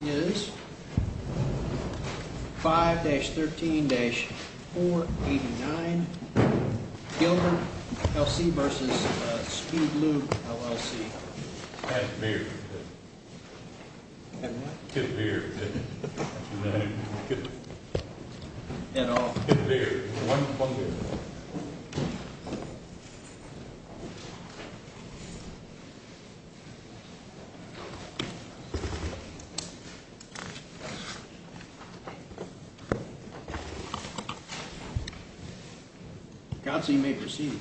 It is 5-13-489, Gilder LLC versus Spiegeloo LLC. And beer. And what? And beer. And all. And beer. Thank you. Counsel, you may proceed.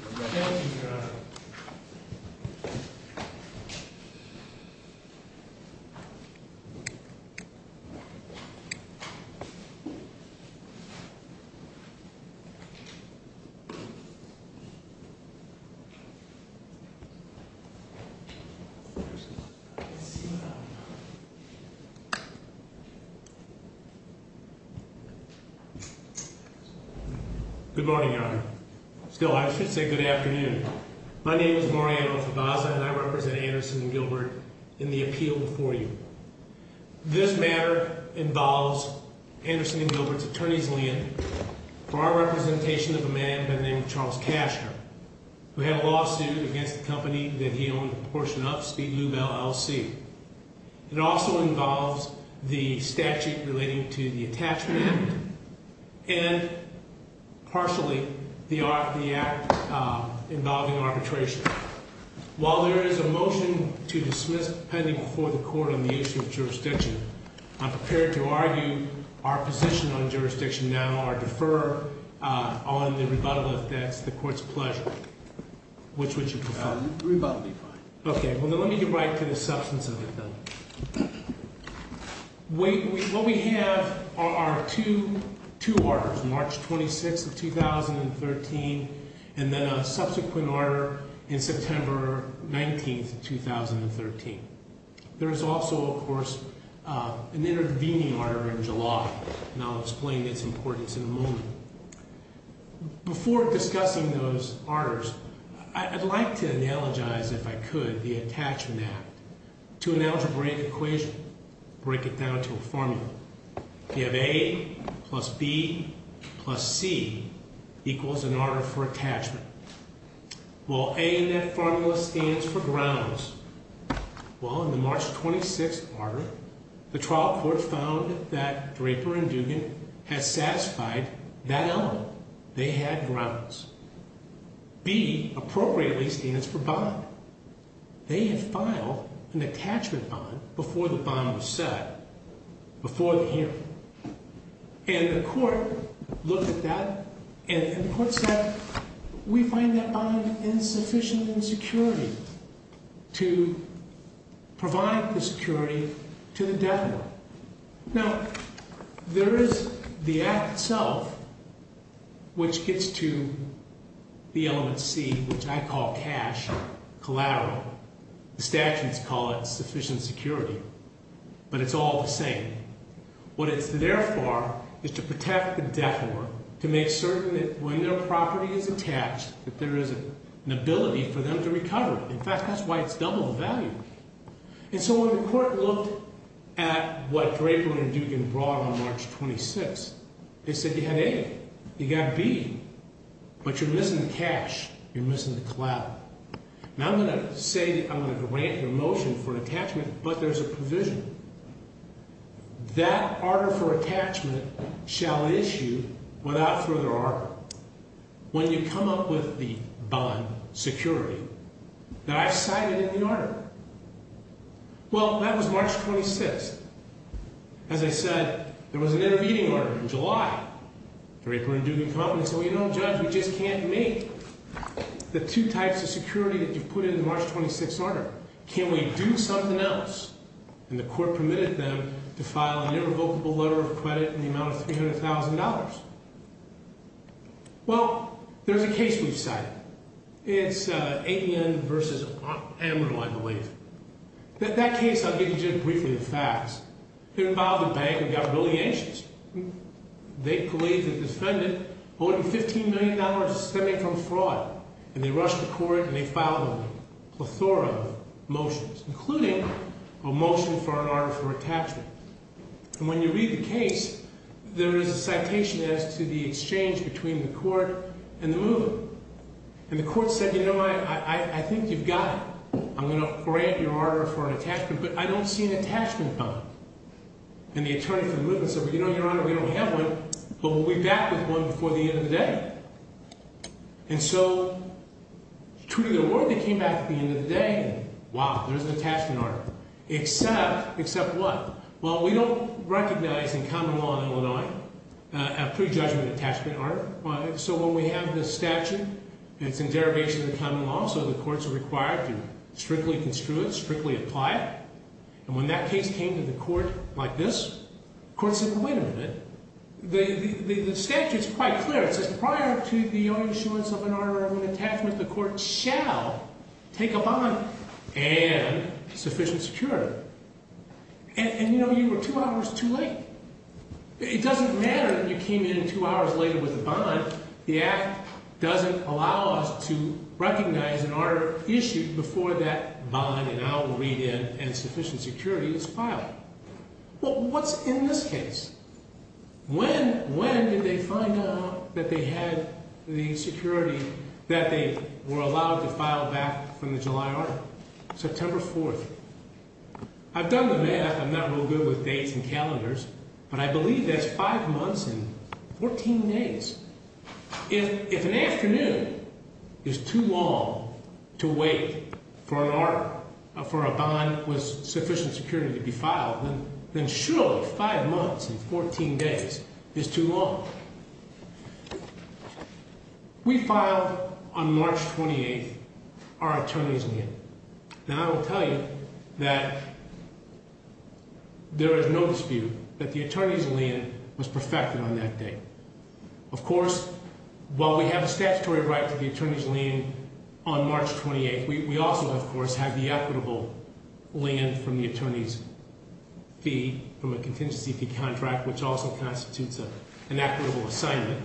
Good morning, Your Honor. Still, I should say good afternoon. My name is Moriano Febasa, and I represent Anderson & Gilbert in the appeal before you. This matter involves Anderson & Gilbert's attorney's land for our representation of a man by the name of Charles Cashner, who had a lawsuit against the company that he owned a portion of, Spiegeloo LLC. It also involves the statute relating to the attachment act and, partially, the act involving arbitration. While there is a motion to dismiss pending before the court on the issue of jurisdiction, I'm prepared to argue our position on jurisdiction now, our defer on the rebuttal, if that's the court's pleasure. Which would you prefer? Rebuttal would be fine. Okay. Well, then let me get right to the substance of the thing. What we have are two orders, March 26, 2013, and then a subsequent order in September 19, 2013. There is also, of course, an intervening order in July, and I'll explain its importance in a moment. Before discussing those orders, I'd like to analogize, if I could, the attachment act. To an algebraic equation, break it down to a formula. You have A plus B plus C equals an order for attachment. Well, A in that formula stands for grounds. Well, in the March 26 order, the trial court found that Draper and Dugan had satisfied that element. They had grounds. B, appropriately, stands for bond. They had filed an attachment bond before the bond was set, before the hearing. And the court looked at that, and the court said, we find that bond insufficient in security to provide the security to the defendant. Now, there is the act itself, which gets to the element C, which I call cash, collateral. The statutes call it sufficient security, but it's all the same. What it's there for is to protect the defendant, to make certain that when their property is attached, that there is an ability for them to recover. In fact, that's why it's double the value. And so when the court looked at what Draper and Dugan brought on March 26, they said you had A, you got B, but you're missing the cash, you're missing the collateral. Now, I'm going to say that I'm going to grant your motion for an attachment, but there's a provision. That order for attachment shall issue, without further order, when you come up with the bond security that I've cited in the order. Well, that was March 26. As I said, there was an intervening order in July. Draper and Dugan come up and say, well, you know, Judge, we just can't make the two types of security that you've put in the March 26 order. Can we do something else? And the court permitted them to file an irrevocable letter of credit in the amount of $300,000. Well, there's a case we've cited. It's Avian versus Amarillo, I believe. That case, I'll give you just briefly the facts. It involved a bank that got really anxious. They believed that the defendant owed them $15 million to stem it from fraud. And they rushed to court and they filed a plethora of motions, including a motion for an order for attachment. And when you read the case, there is a citation as to the exchange between the court and the movement. And the court said, you know, I think you've got it. I'm going to grant your order for an attachment, but I don't see an attachment coming. And the attorney for the movement said, well, you know, Your Honor, we don't have one, but we'll be back with one before the end of the day. And so, true to their word, they came back at the end of the day. Wow, there's an attachment order. Except, except what? Well, we don't recognize in common law in Illinois a prejudgment attachment order. So when we have the statute, and it's in derivation of the common law, so the courts are required to strictly construe it, strictly apply it. And when that case came to the court like this, the court said, well, wait a minute. The statute is quite clear. It says prior to the own insurance of an order of an attachment, the court shall take a bond and sufficient security. And, you know, you were two hours too late. It doesn't matter that you came in two hours later with a bond. The act doesn't allow us to recognize an order issued before that bond and I'll read in and sufficient security is filed. Well, what's in this case? When, when did they find out that they had the security that they were allowed to file back from the July order? September 4th. I've done the math. I'm not real good with dates and calendars. But I believe that's five months and 14 days. If an afternoon is too long to wait for an hour for a bond with sufficient security to be filed, then surely five months and 14 days is too long. We filed on March 28th. Our attorneys knew. Now, I will tell you that there is no dispute that the attorney's lien was perfected on that day. Of course, while we have a statutory right to the attorney's lien on March 28th, we also, of course, have the equitable lien from the attorney's fee from a contingency fee contract, which also constitutes an equitable assignment.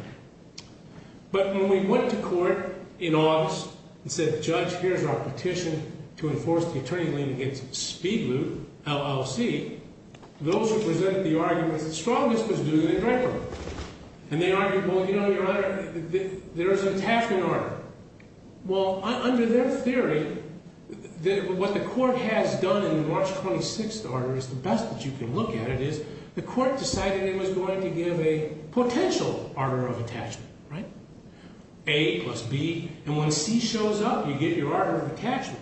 But when we went to court in August and said, Judge, here's our petition to enforce the attorney's lien against Speed Loot, LLC, those who presented the arguments that strongest was doing it in record. And they argued, well, you know, Your Honor, there is an attachment order. Well, under their theory, what the court has done in the March 26th order is the best that you can look at it is the court decided it was going to give a potential order of attachment, right? A plus B. And when C shows up, you get your order of attachment.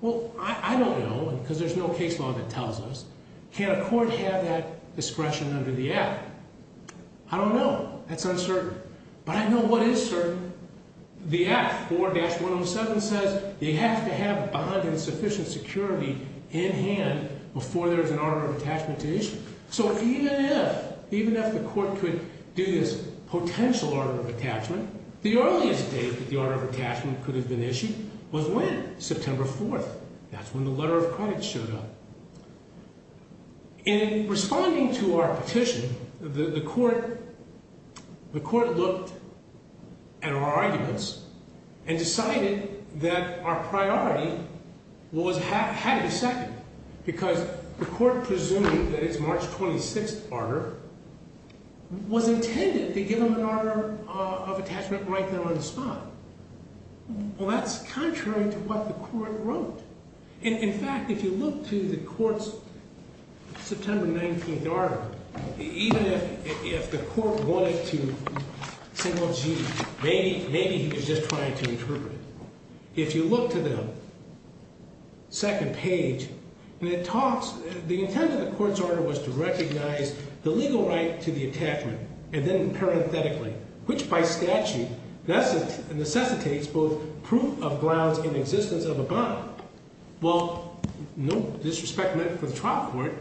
Well, I don't know because there's no case law that tells us. Can a court have that discretion under the act? I don't know. That's uncertain. But I know what is certain. The act, 4-107, says you have to have bond and sufficient security in hand before there's an order of attachment to issue. So even if the court could do this potential order of attachment, the earliest date that the order of attachment could have been issued was when? September 4th. That's when the letter of credit showed up. In responding to our petition, the court looked at our arguments and decided that our priority had to be second because the court presumed that its March 26th order was intended to give them an order of attachment right there on the spot. Well, that's contrary to what the court wrote. In fact, if you look to the court's September 19th order, even if the court wanted to single G, maybe he was just trying to interpret it. If you look to the second page, the intent of the court's order was to recognize the legal right to the attachment, and then parenthetically, which by statute necessitates both proof of grounds in existence of a bond. Well, no disrespect meant for the trial court,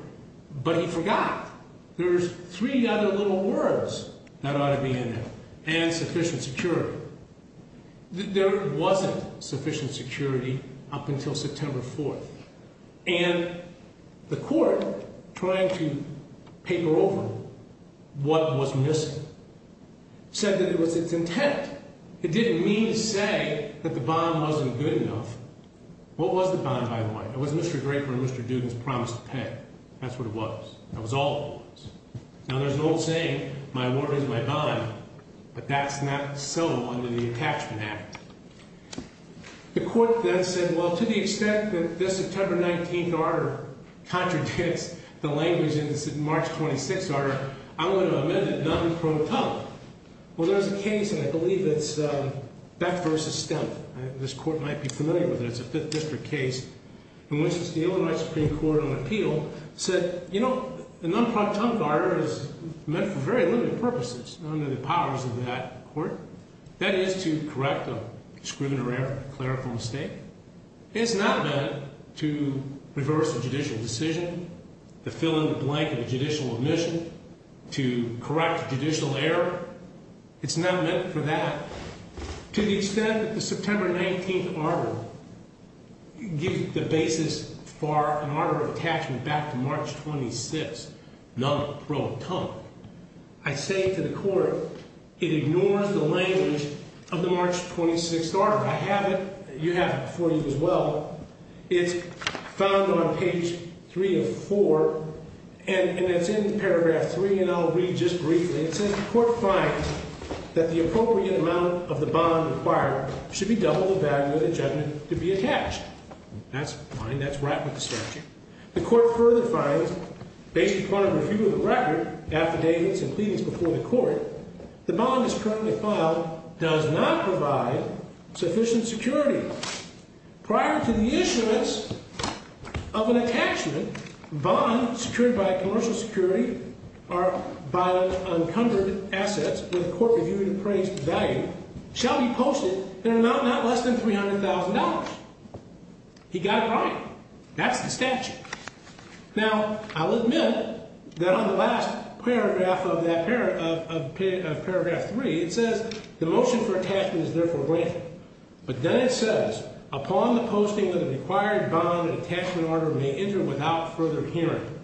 but he forgot there's three other little words that ought to be in there, and sufficient security. There wasn't sufficient security up until September 4th, and the court, trying to paper over what was missing, said that it was its intent. It didn't mean to say that the bond wasn't good enough. What was the bond, by the way? It was Mr. Draper and Mr. Duden's promise to pay. That's what it was. That was all it was. Now, there's an old saying, my word is my bond, but that's not so under the Attachment Act. The court then said, well, to the extent that this September 19th order contradicts the language in this March 26th order, I'm going to amend it non pro tonque. Well, there's a case, and I believe it's Beck v. Stempf. This court might be familiar with it. It's a Fifth District case in which the Illinois Supreme Court on appeal said, you know, a non pro tonque order is meant for very limited purposes under the powers of that court. That is to correct a discriminatory error, a clerical mistake. It's not meant to reverse a judicial decision, to fill in the blank of a judicial omission, to correct a judicial error. It's not meant for that. To the extent that the September 19th order gives the basis for an order of attachment back to March 26th, non pro tonque, I say to the court, it ignores the language of the March 26th order. I have it. You have it before you as well. It's found on page three of four, and it's in paragraph three, and I'll read just briefly. It says the court finds that the appropriate amount of the bond required should be double the value of the judgment to be attached. That's fine. That's right with the statute. The court further finds, based upon a review of the record, affidavits, and pleadings before the court, the bond that's currently filed does not provide sufficient security. Prior to the issuance of an attachment, bond secured by commercial security or by unencumbered assets with a court-reviewed appraised value shall be posted in an amount not less than $300,000. He got it right. That's the statute. Now, I'll admit that on the last paragraph of paragraph three, it says the motion for attachment is therefore granted, but then it says, upon the posting of the required bond, an attachment order may enter without further hearing.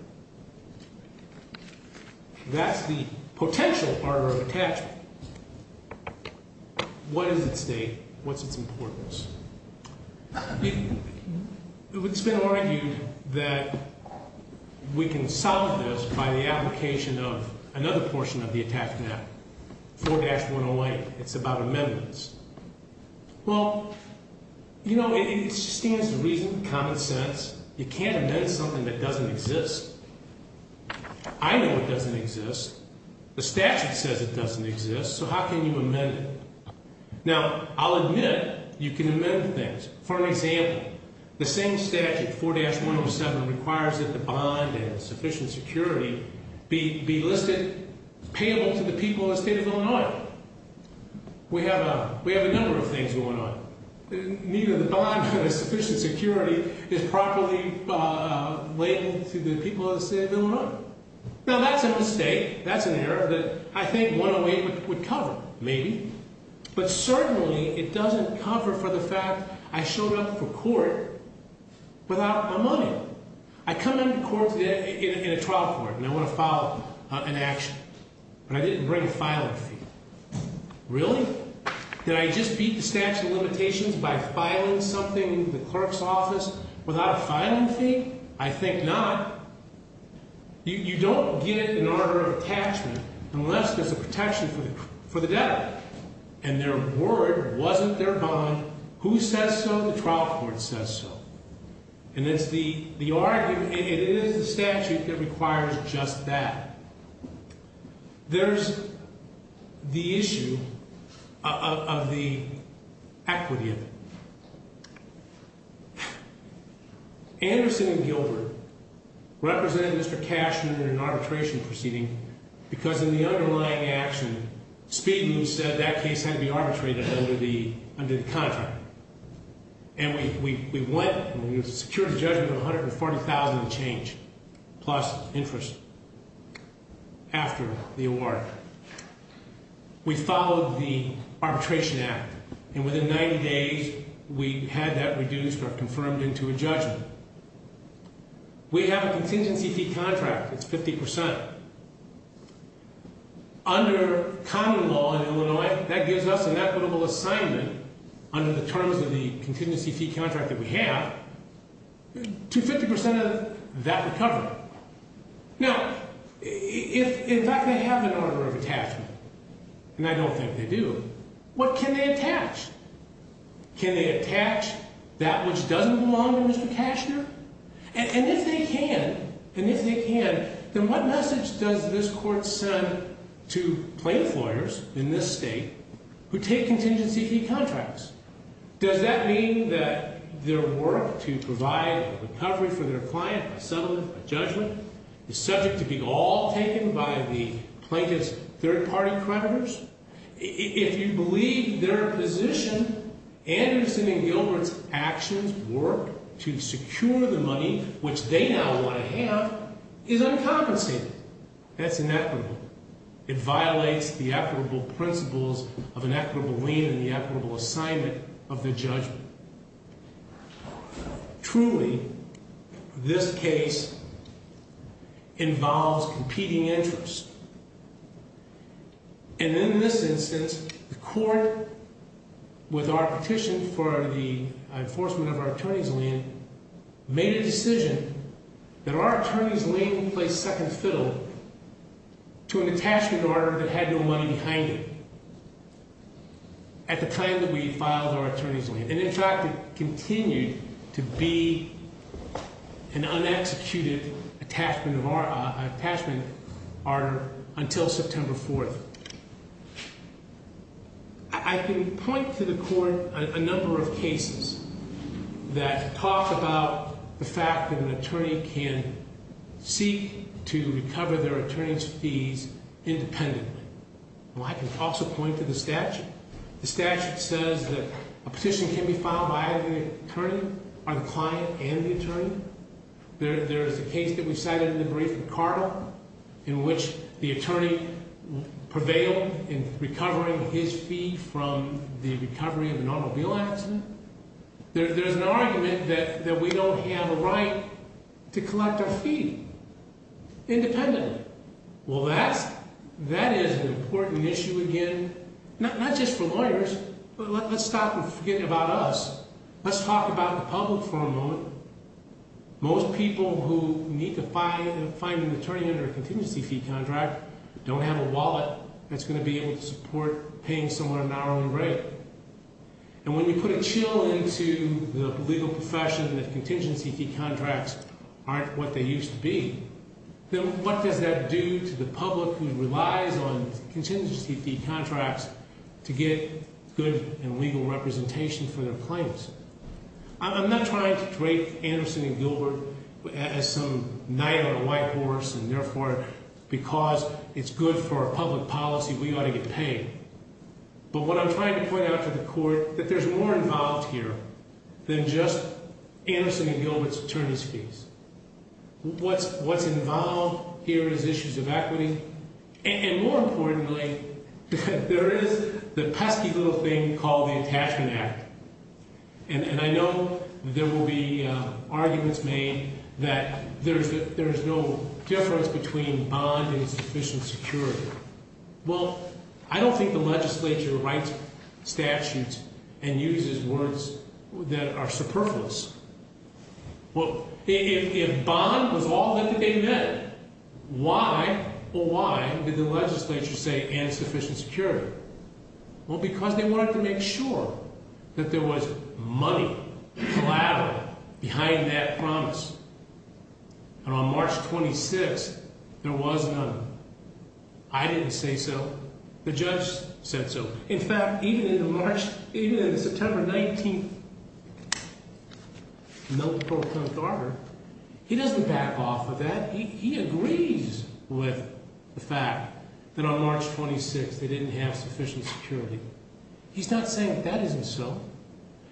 That's the potential order of attachment. What is its date? What's its importance? It's been argued that we can solve this by the application of another portion of the attachment, 4-108. It's about amendments. Well, you know, it stands to reason, common sense, you can't amend something that doesn't exist. I know it doesn't exist. The statute says it doesn't exist, so how can you amend it? Now, I'll admit you can amend things. For example, the same statute, 4-107, requires that the bond and sufficient security be listed payable to the people of the state of Illinois. We have a number of things going on. Neither the bond nor the sufficient security is properly labeled to the people of the state of Illinois. Now, that's a mistake. That's an error that I think 108 would cover, maybe. But certainly it doesn't cover for the fact I showed up for court without my money. I come into court today in a trial court and I want to file an action, but I didn't bring a filing fee. Really? Did I just beat the statute of limitations by filing something in the clerk's office without a filing fee? I think not. You don't get an order of attachment unless there's a protection for the debtor. And their word wasn't their bond. Who says so? The trial court says so. And it is the statute that requires just that. There's the issue of the equity of it. Anderson and Gilbert represented Mr. Cashman in an arbitration proceeding because in the underlying action, Speedman said that case had to be arbitrated under the contract. And we went and we secured a judgment of $140,000 in change plus interest after the award. We followed the arbitration act. And within 90 days, we had that reduced or confirmed into a judgment. We have a contingency fee contract. It's 50%. Under common law in Illinois, that gives us an equitable assignment under the terms of the contingency fee contract that we have to 50% of that recovery. Now, if in fact they have an order of attachment, and I don't think they do, what can they attach? Can they attach that which doesn't belong to Mr. Cashner? And if they can, and if they can, then what message does this court send to plaintiff lawyers in this state who take contingency fee contracts? Does that mean that their work to provide a recovery for their client, a settlement, a judgment, is subject to be all taken by the plaintiff's third-party creditors? If you believe their position, Anderson and Gilbert's actions, work to secure the money, which they now want to have, is uncompensated. That's inequitable. It violates the equitable principles of an equitable lien and the equitable assignment of the judgment. Truly, this case involves competing interests. And in this instance, the court, with our petition for the enforcement of our attorney's lien, made a decision that our attorney's lien placed second fiddle to an attachment order that had no money behind it at the time that we filed our attorney's lien. And in fact, it continued to be an un-executed attachment order until September 4th. I can point to the court a number of cases that talk about the fact that an attorney can seek to recover their attorney's fees independently. Well, I can also point to the statute. The statute says that a petition can be filed by either the attorney or the client and the attorney. There is a case that we cited in the brief with Carter in which the attorney prevailed in recovering his fee from the recovery of an automobile accident. There's an argument that we don't have a right to collect our fee independently. Well, that is an important issue again, not just for lawyers, but let's stop and forget about us. Let's talk about the public for a moment. Most people who need to find an attorney under a contingency fee contract don't have a wallet that's going to be able to support paying someone an hourly rate. And when you put a chill into the legal profession that contingency fee contracts aren't what they used to be, then what does that do to the public who relies on contingency fee contracts to get good and legal representation for their claims? I'm not trying to drape Anderson and Gilbert as some knight on a white horse and therefore because it's good for our public policy, we ought to get paid. But what I'm trying to point out to the court that there's more involved here than just Anderson and Gilbert's attorney's fees. What's involved here is issues of equity, and more importantly, there is the pesky little thing called the Attachment Act. And I know there will be arguments made that there's no difference between bond and sufficient security. Well, I don't think the legislature writes statutes and uses words that are superfluous. Well, if bond was all that they meant, why or why did the legislature say insufficient security? Well, because they wanted to make sure that there was money collateral behind that promise. And on March 26th, there was none. I didn't say so. The judge said so. In fact, even in the March, even in the September 19th notice, he doesn't back off of that. He agrees with the fact that on March 26th, they didn't have sufficient security. He's not saying that that isn't so.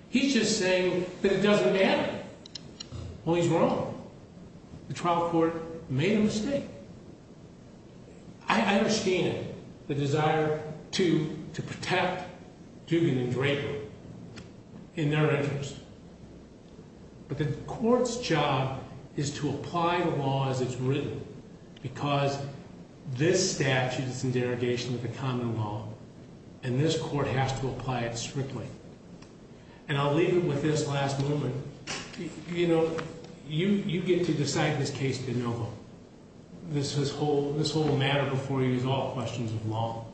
He's just saying that it doesn't matter. Well, he's wrong. The trial court made a mistake. I understand the desire to protect Dugan and Draper in their interest. But the court's job is to apply the law as it's written because this statute is in derogation of the common law. And this court has to apply it strictly. And I'll leave it with this last moment. You know, you get to decide this case de novo. This whole matter before you is all questions of law.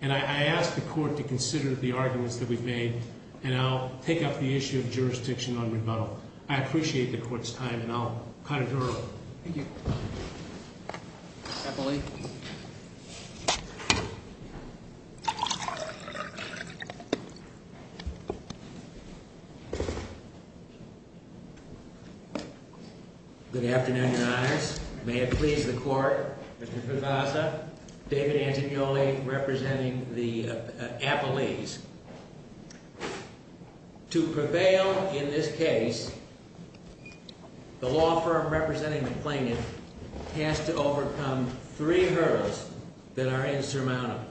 And I ask the court to consider the arguments that we've made. And I'll take up the issue of jurisdiction on rebuttal. I appreciate the court's time and I'll cut it early. Thank you. Appellee. Good afternoon, Your Honors. May it please the court. Mr. Fevassa, David Angioli representing the appellees. To prevail in this case, the law firm representing the plaintiff has to overcome three hurdles that are insurmountable.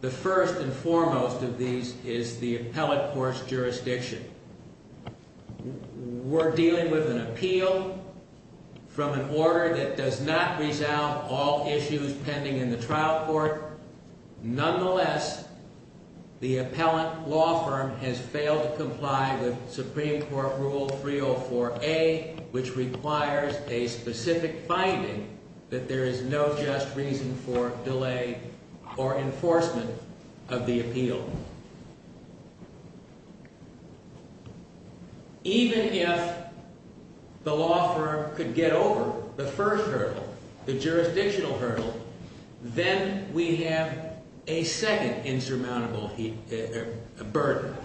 The first and foremost of these is the appellate court's jurisdiction. We're dealing with an appeal from an order that does not resolve all issues pending in the trial court. Nonetheless, the appellate law firm has failed to comply with Supreme Court Rule 304A, which requires a specific finding that there is no just reason for delay or enforcement of the appeal. Even if the law firm could get over the first hurdle, the jurisdictional hurdle, then we have a second insurmountable burden.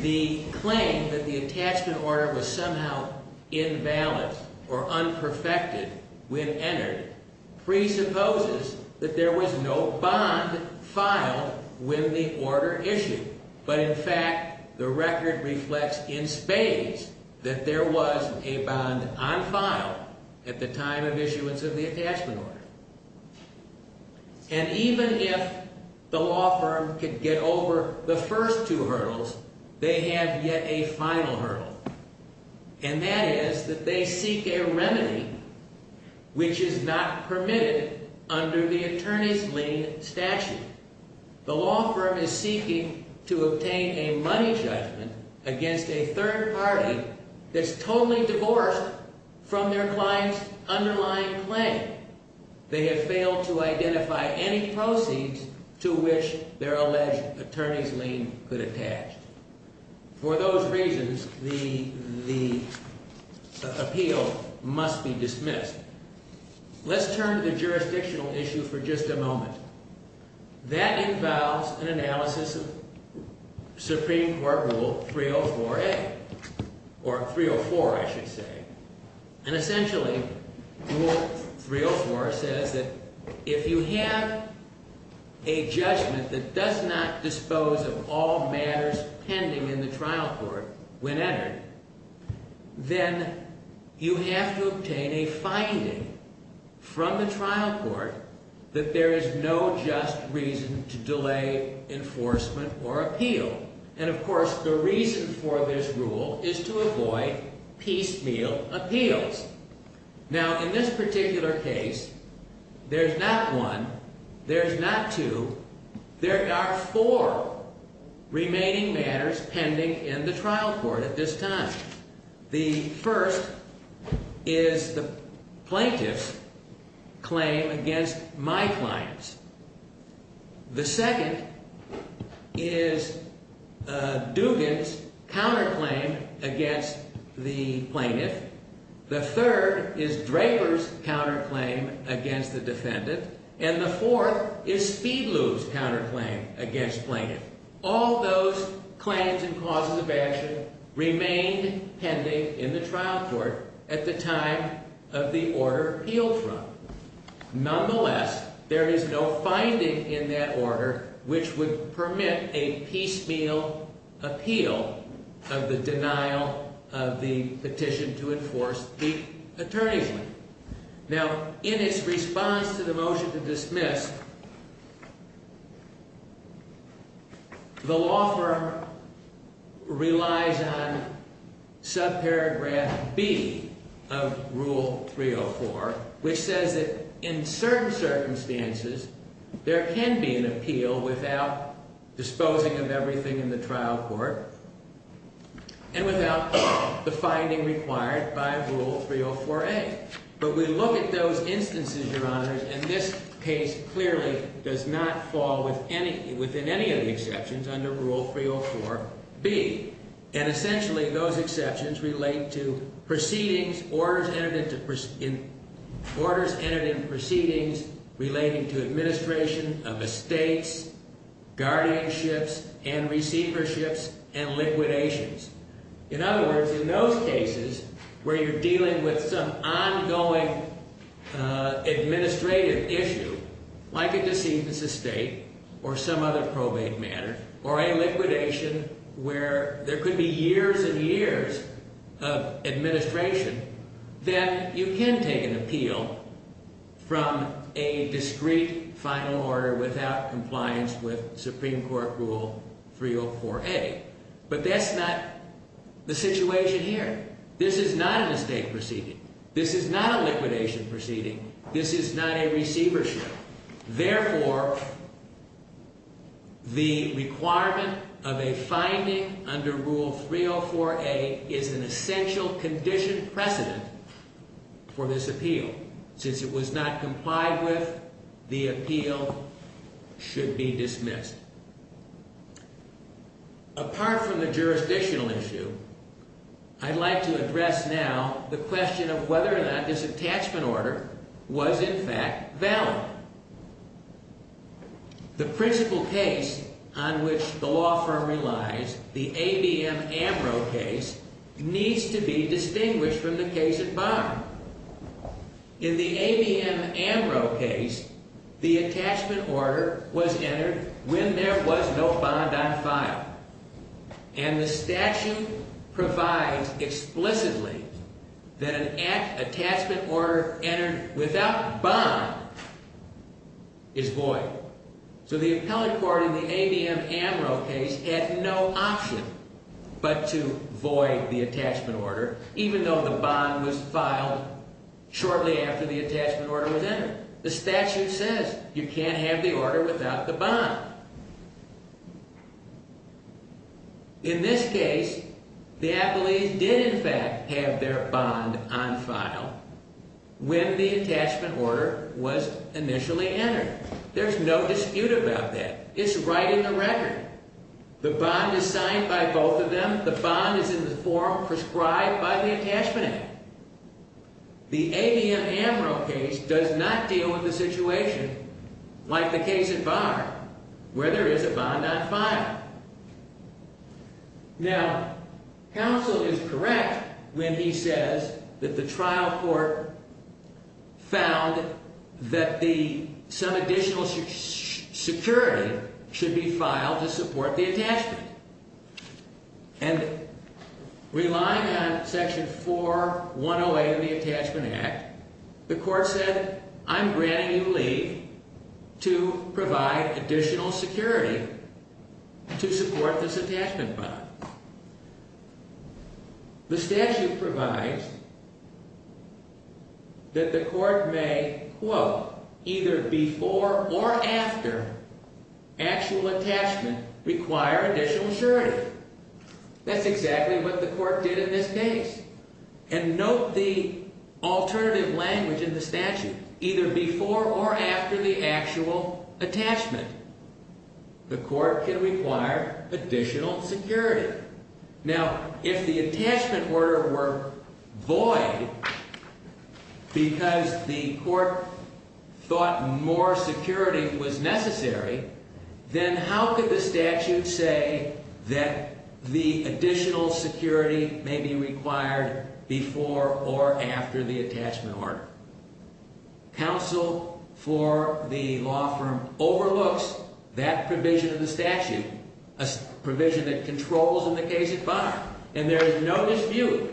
The claim that the attachment order was somehow invalid or unperfected when entered presupposes that there was no bond filed when the order issued. But in fact, the record reflects in spades that there was a bond on file at the time of issuance of the attachment order. And even if the law firm could get over the first two hurdles, they have yet a final hurdle, and that is that they seek a remedy which is not permitted under the attorney's lien statute. The law firm is seeking to obtain a money judgment against a third party that's totally divorced from their client's underlying claim. They have failed to identify any proceeds to which their alleged attorney's lien could attach. For those reasons, the appeal must be dismissed. Let's turn to the jurisdictional issue for just a moment. That involves an analysis of Supreme Court Rule 304A, or 304, I should say. And essentially, Rule 304 says that if you have a judgment that does not dispose of all matters pending in the trial court when entered, then you have to obtain a finding from the trial court that there is no just reason to delay enforcement or appeal. And of course, the reason for this rule is to avoid piecemeal appeals. Now, in this particular case, there's not one, there's not two, there are four remaining matters pending in the trial court at this time. The first is the plaintiff's claim against my clients. The second is Dugan's counterclaim against the plaintiff. The third is Draper's counterclaim against the defendant. And the fourth is Speedlew's counterclaim against plaintiff. All those claims and causes of action remain pending in the trial court at the time of the order appealed from. Nonetheless, there is no finding in that order which would permit a piecemeal appeal of the denial of the petition to enforce the attorneyship. Now, in its response to the motion to dismiss, the law firm relies on subparagraph B of Rule 304, which says that in certain circumstances, there can be an appeal without disposing of everything in the trial court and without the finding required by Rule 304A. But we look at those instances, Your Honors, and this case clearly does not fall within any of the exceptions under Rule 304B. And essentially, those exceptions relate to proceedings, orders entered into proceedings relating to administration of estates, guardianships, and receiverships, and liquidations. In other words, in those cases where you're dealing with some ongoing administrative issue, like a deceitful estate or some other probate matter, or a liquidation where there could be years and years of administration, then you can take an appeal from a discreet final order without compliance with Supreme Court Rule 304A. But that's not the situation here. This is not a mistake proceeding. This is not a liquidation proceeding. This is not a receivership. Therefore, the requirement of a finding under Rule 304A is an essential condition precedent for this appeal. Since it was not complied with, the appeal should be dismissed. Apart from the jurisdictional issue, I'd like to address now the question of whether or not this attachment order was, in fact, valid. The principal case on which the law firm relies, the ABM Ambrose case, needs to be distinguished from the case at bar. In the ABM Ambrose case, the attachment order was entered when there was no bond on file. And the statute provides explicitly that an attachment order entered without bond is void. So the appellate court in the ABM Ambrose case had no option but to void the attachment order, even though the bond was filed shortly after the attachment order was entered. The statute says you can't have the order without the bond. In this case, the appellees did, in fact, have their bond on file when the attachment order was initially entered. There's no dispute about that. It's right in the record. The bond is signed by both of them. The bond is in the form prescribed by the Attachment Act. The ABM Ambrose case does not deal with a situation like the case at bar, where there is a bond on file. Now, counsel is correct when he says that the trial court found that some additional security should be filed to support the attachment. And relying on Section 4108 of the Attachment Act, the court said, I'm granting you leave to provide additional security to support this attachment bond. The statute provides that the court may, quote, either before or after actual attachment require additional security. That's exactly what the court did in this case. And note the alternative language in the statute. Either before or after the actual attachment, the court can require additional security. Now, if the attachment order were void because the court thought more security was necessary, then how could the statute say that the additional security may be required before or after the attachment order? Counsel for the law firm overlooks that provision of the statute, a provision that controls in the case at bar. And there is no dispute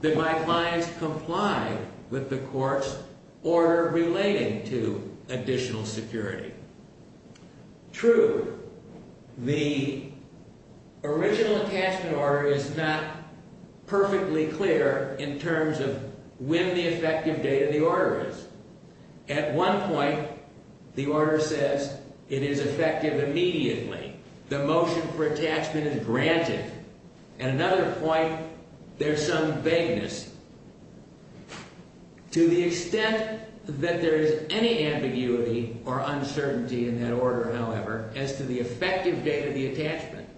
that my clients comply with the court's order relating to additional security. True, the original attachment order is not perfectly clear in terms of when the effective date of the order is. At one point, the order says it is effective immediately. The motion for attachment is granted. At another point, there's some vagueness. To the extent that there is any ambiguity or uncertainty in that order, however, as to the effective date of the attachment,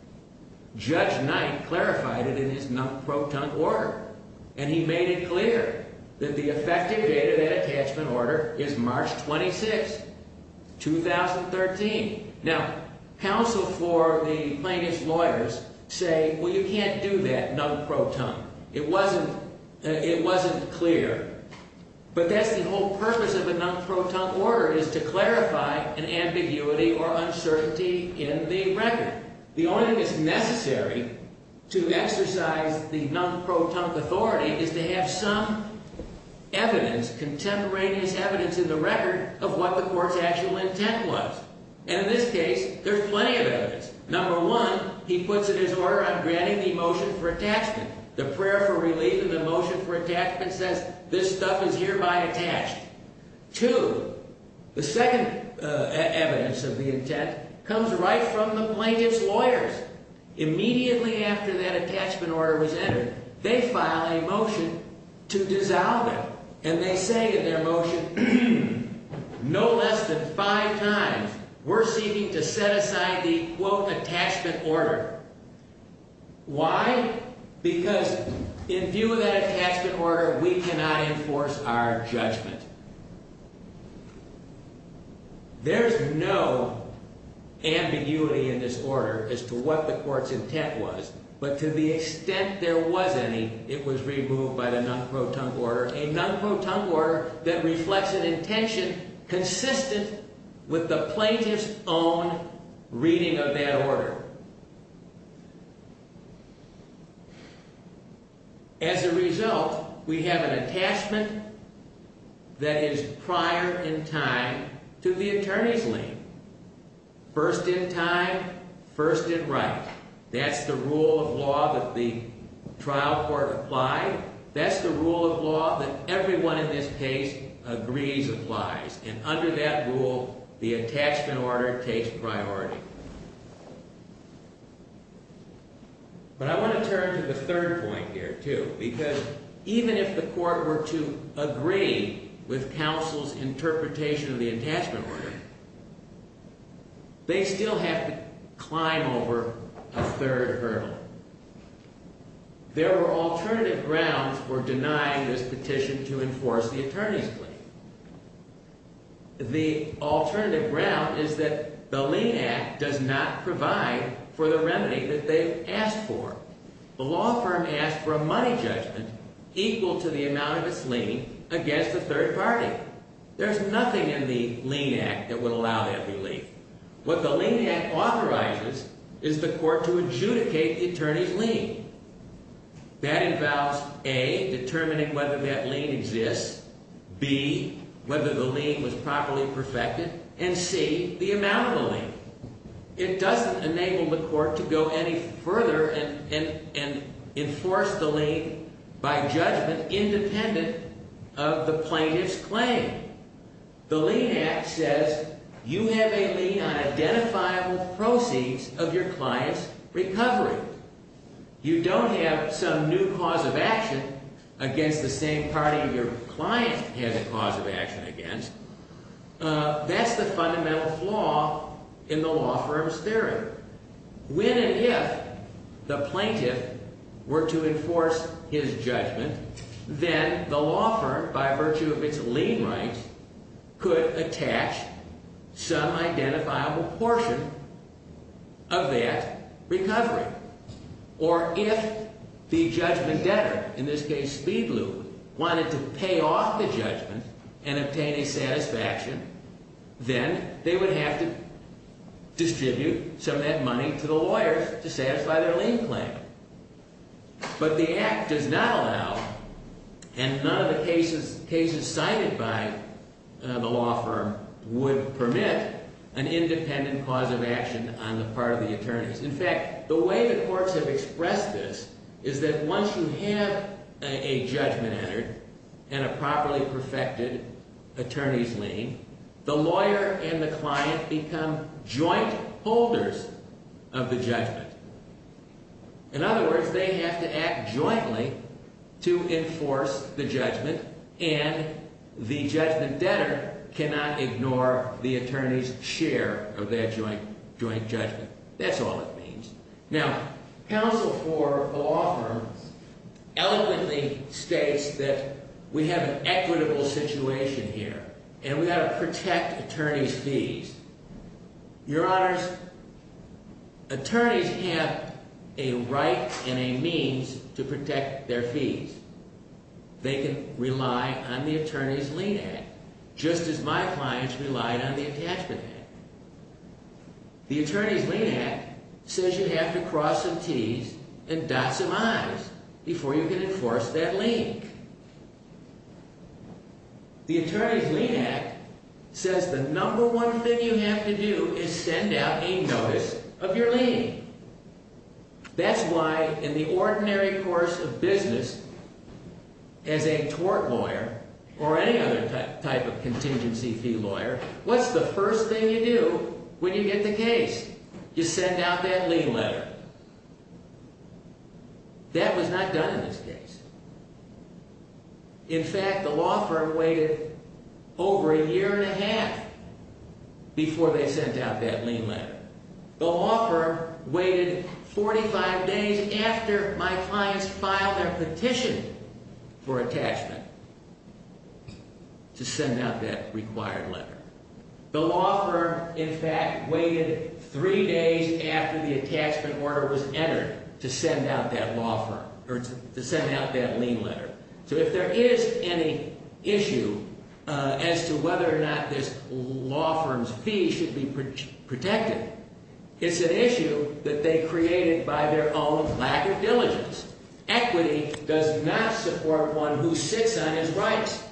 Judge Knight clarified it in his non-proton order. And he made it clear that the effective date of that attachment order is March 26, 2013. Now, counsel for the plaintiff's lawyers say, well, you can't do that non-proton. It wasn't clear. But that's the whole purpose of a non-proton order is to clarify an ambiguity or uncertainty in the record. The only thing that's necessary to exercise the non-proton authority is to have some evidence, contemporaneous evidence in the record of what the court's actual intent was. And in this case, there's plenty of evidence. Number one, he puts it in his order on granting the motion for attachment. The prayer for relief in the motion for attachment says this stuff is hereby attached. Two, the second evidence of the intent comes right from the plaintiff's lawyers. Immediately after that attachment order was entered, they file a motion to dissolve it. And they say in their motion, no less than five times, we're seeking to set aside the, quote, attachment order. Why? Because in view of that attachment order, we cannot enforce our judgment. There's no ambiguity in this order as to what the court's intent was. But to the extent there was any, it was removed by the non-proton order, a non-proton order that reflects an intention consistent with the plaintiff's own reading of that order. As a result, we have an attachment that is prior in time to the attorney's lien. First in time, first in right. That's the rule of law that the trial court applied. That's the rule of law that everyone in this case agrees applies. And under that rule, the attachment order takes priority. But I want to turn to the third point here, too. Because even if the court were to agree with counsel's interpretation of the attachment order, they still have to climb over a third hurdle. There are alternative grounds for denying this petition to enforce the attorney's plea. The alternative ground is that the Lien Act does not provide for the remedy that they've asked for. The law firm asked for a money judgment equal to the amount of its lien against a third party. There's nothing in the Lien Act that would allow that relief. What the Lien Act authorizes is the court to adjudicate the attorney's lien. That involves, A, determining whether that lien exists, B, whether the lien was properly perfected, and C, the amount of the lien. It doesn't enable the court to go any further and enforce the lien by judgment independent of the plaintiff's claim. The Lien Act says you have a lien on identifiable proceeds of your client's recovery. You don't have some new cause of action against the same party your client has a cause of action against. That's the fundamental flaw in the law firm's theory. When and if the plaintiff were to enforce his judgment, then the law firm, by virtue of its lien rights, could attach some identifiable portion of that recovery. Or if the judgment debtor, in this case Speed Liu, wanted to pay off the judgment and obtain a satisfaction, then they would have to distribute some of that money to the lawyers to satisfy their lien claim. But the Act does not allow, and none of the cases cited by the law firm would permit, an independent cause of action on the part of the attorneys. In fact, the way the courts have expressed this is that once you have a judgment entered and a properly perfected attorney's lien, the lawyer and the client become joint holders of the judgment. In other words, they have to act jointly to enforce the judgment, and the judgment debtor cannot ignore the attorney's share of that joint judgment. That's all it means. Now, counsel for a law firm eloquently states that we have an equitable situation here, and we have to protect attorneys' fees. Your Honors, attorneys have a right and a means to protect their fees. They can rely on the Attorney's Lien Act, just as my clients relied on the Attachment Act. The Attorney's Lien Act says you have to cross some Ts and dot some Is before you can enforce that lien. The Attorney's Lien Act says the number one thing you have to do is send out a notice of your lien. That's why in the ordinary course of business, as a tort lawyer or any other type of contingency fee lawyer, what's the first thing you do when you get the case? You send out that lien letter. That was not done in this case. In fact, the law firm waited over a year and a half before they sent out that lien letter. The law firm waited 45 days after my clients filed their petition for attachment to send out that required letter. The law firm, in fact, waited three days after the attachment order was entered to send out that lien letter. So if there is any issue as to whether or not this law firm's fees should be protected, it's an issue that they created by their own lack of diligence. Equity does not support one who sits on his rights.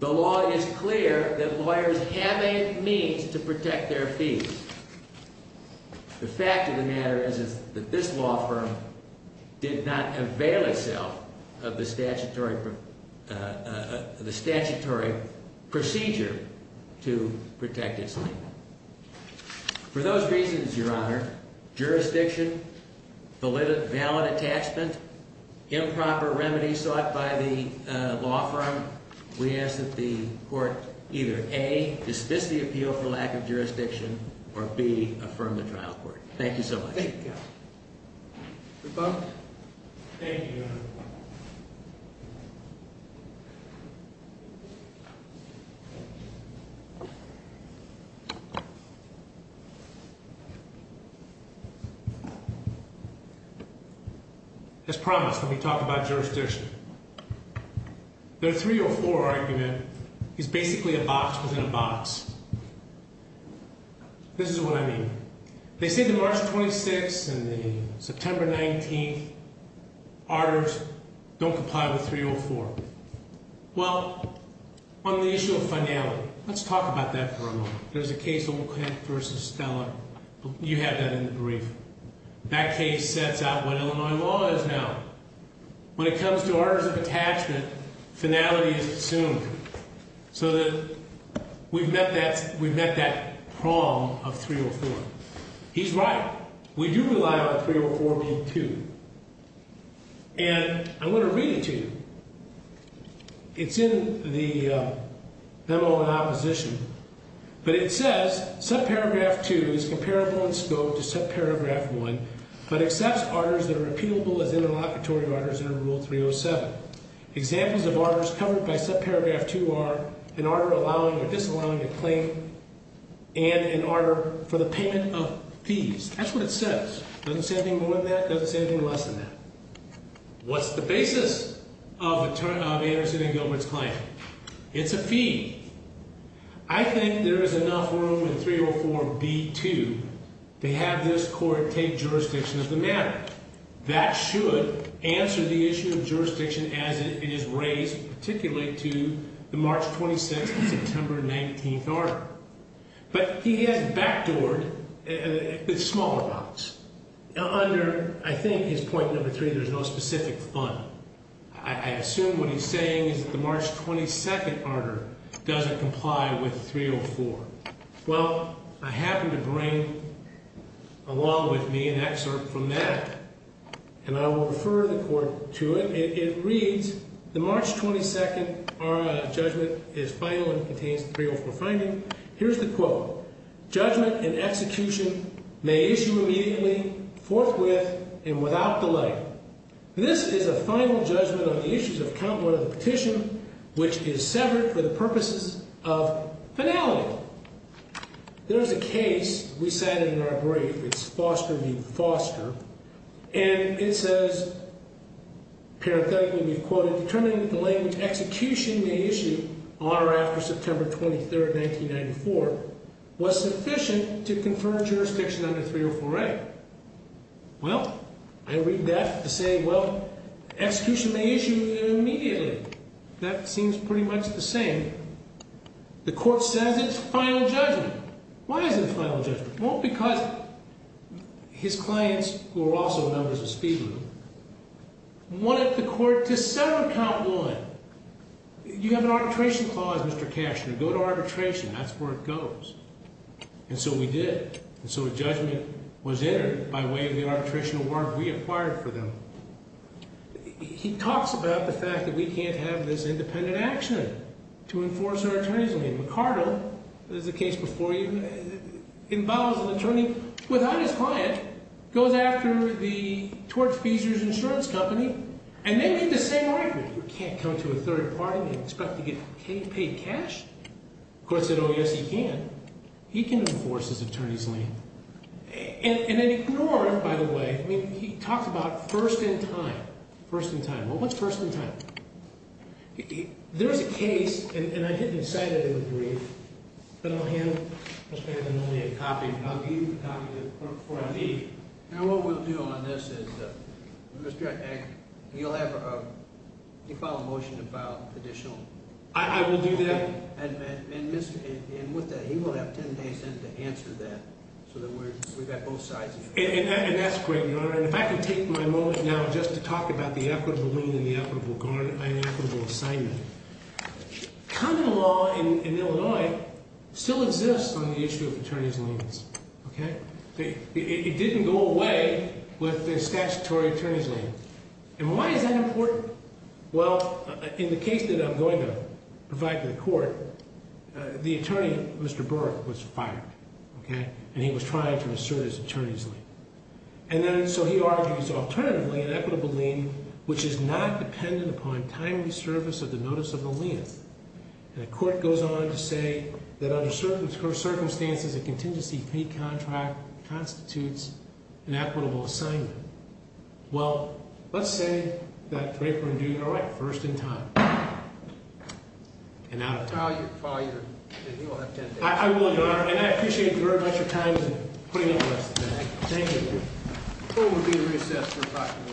The law is clear that lawyers have a means to protect their fees. The fact of the matter is that this law firm did not avail itself of the statutory procedure to protect its fee. For those reasons, Your Honor, jurisdiction, valid attachment, improper remedies sought by the law firm, we ask that the court either A, dismiss the appeal for lack of jurisdiction, or B, affirm the trial court. Thank you so much. Thank you. Your Honor. Thank you, Your Honor. As promised, let me talk about jurisdiction. The 304 argument is basically a box within a box. This is what I mean. They say the March 26th and the September 19th arters don't comply with 304. Well, on the issue of finality, let's talk about that for a moment. There's a case, Olcott v. Stella. You have that in the brief. That case sets out what Illinois law is now. When it comes to arters of attachment, finality is assumed. So that we've met that prong of 304. He's right. We do rely on 304 being 2. And I want to read it to you. It's in the memo in opposition. But it says, subparagraph 2 is comparable in scope to subparagraph 1, but accepts arters that are repeatable as interlocutory arters under Rule 307. Examples of arters covered by subparagraph 2 are an arter allowing or disallowing a claim and an arter for the payment of fees. That's what it says. It doesn't say anything more than that. It doesn't say anything less than that. What's the basis of Anderson v. Gilbert's claim? It's a fee. I think there is enough room in 304b-2 to have this court take jurisdiction of the matter. That should answer the issue of jurisdiction as it is raised, particularly to the March 26th and September 19th arter. But he has backdoored the small amounts. Now, under, I think, his point number 3, there's no specific fund. I assume what he's saying is the March 22nd arter doesn't comply with 304. Well, I happen to bring along with me an excerpt from that, and I will refer the court to it. It reads, the March 22nd judgment is final and contains the 304 finding. Here's the quote. Judgment and execution may issue immediately, forthwith, and without delay. This is a final judgment on the issues of count one of the petition, which is severed for the purposes of finality. There is a case we cited in our brief. It's Foster v. Foster. And it says, parenthetically we've quoted, determining that the language execution may issue on or after September 23rd, 1994, was sufficient to confer jurisdiction under 304a. Well, I read that to say, well, execution may issue immediately. That seems pretty much the same. The court says it's final judgment. Why is it final judgment? Well, because his clients, who are also members of Speed Rule, wanted the court to sever count one. You have an arbitration clause, Mr. Cashner. Go to arbitration. That's where it goes. And so we did. And so a judgment was entered by way of the arbitration award we acquired for them. He talks about the fact that we can't have this independent action to enforce our attorney's leave. McCardell, there's a case before you, involves an attorney without his client, goes after the Torch Feesers Insurance Company, and they made the same argument. You can't come to a third party and expect to get paid cash. The court said, oh, yes, you can. He can enforce his attorney's leave. And then ignore it, by the way. I mean, he talks about first in time. First in time. Well, what's first in time? There's a case, and I didn't cite it in the brief. But I'll hand Mr. Anthony a copy. I'll give you a copy of the court report. Now, what we'll do on this is, Mr. Agnew, you'll have a default motion to file additional. I will do that. And with that, he will have 10 days in to answer that so that we've got both sides. And that's great, Your Honor. And if I can take my moment now just to talk about the equitable lien and the equitable assignment. Common law in Illinois still exists on the issue of attorney's liens. Okay? It didn't go away with the statutory attorney's lien. And why is that important? Well, in the case that I'm going to provide to the court, the attorney, Mr. Burke, was fired. Okay? And he was trying to assert his attorney's lien. And then, so he argues, alternatively, an equitable lien, which is not dependent upon timely service of the notice of the lien. And the court goes on to say that under certain circumstances, a contingency fee contract constitutes an equitable assignment. Well, let's say that Draper and Dugan are right, first in time. And out of time. File your – he will have 10 days. I will, Your Honor. And I appreciate your time and putting up with us today. Thank you. Court will be in recess for approximately one hour. All rise.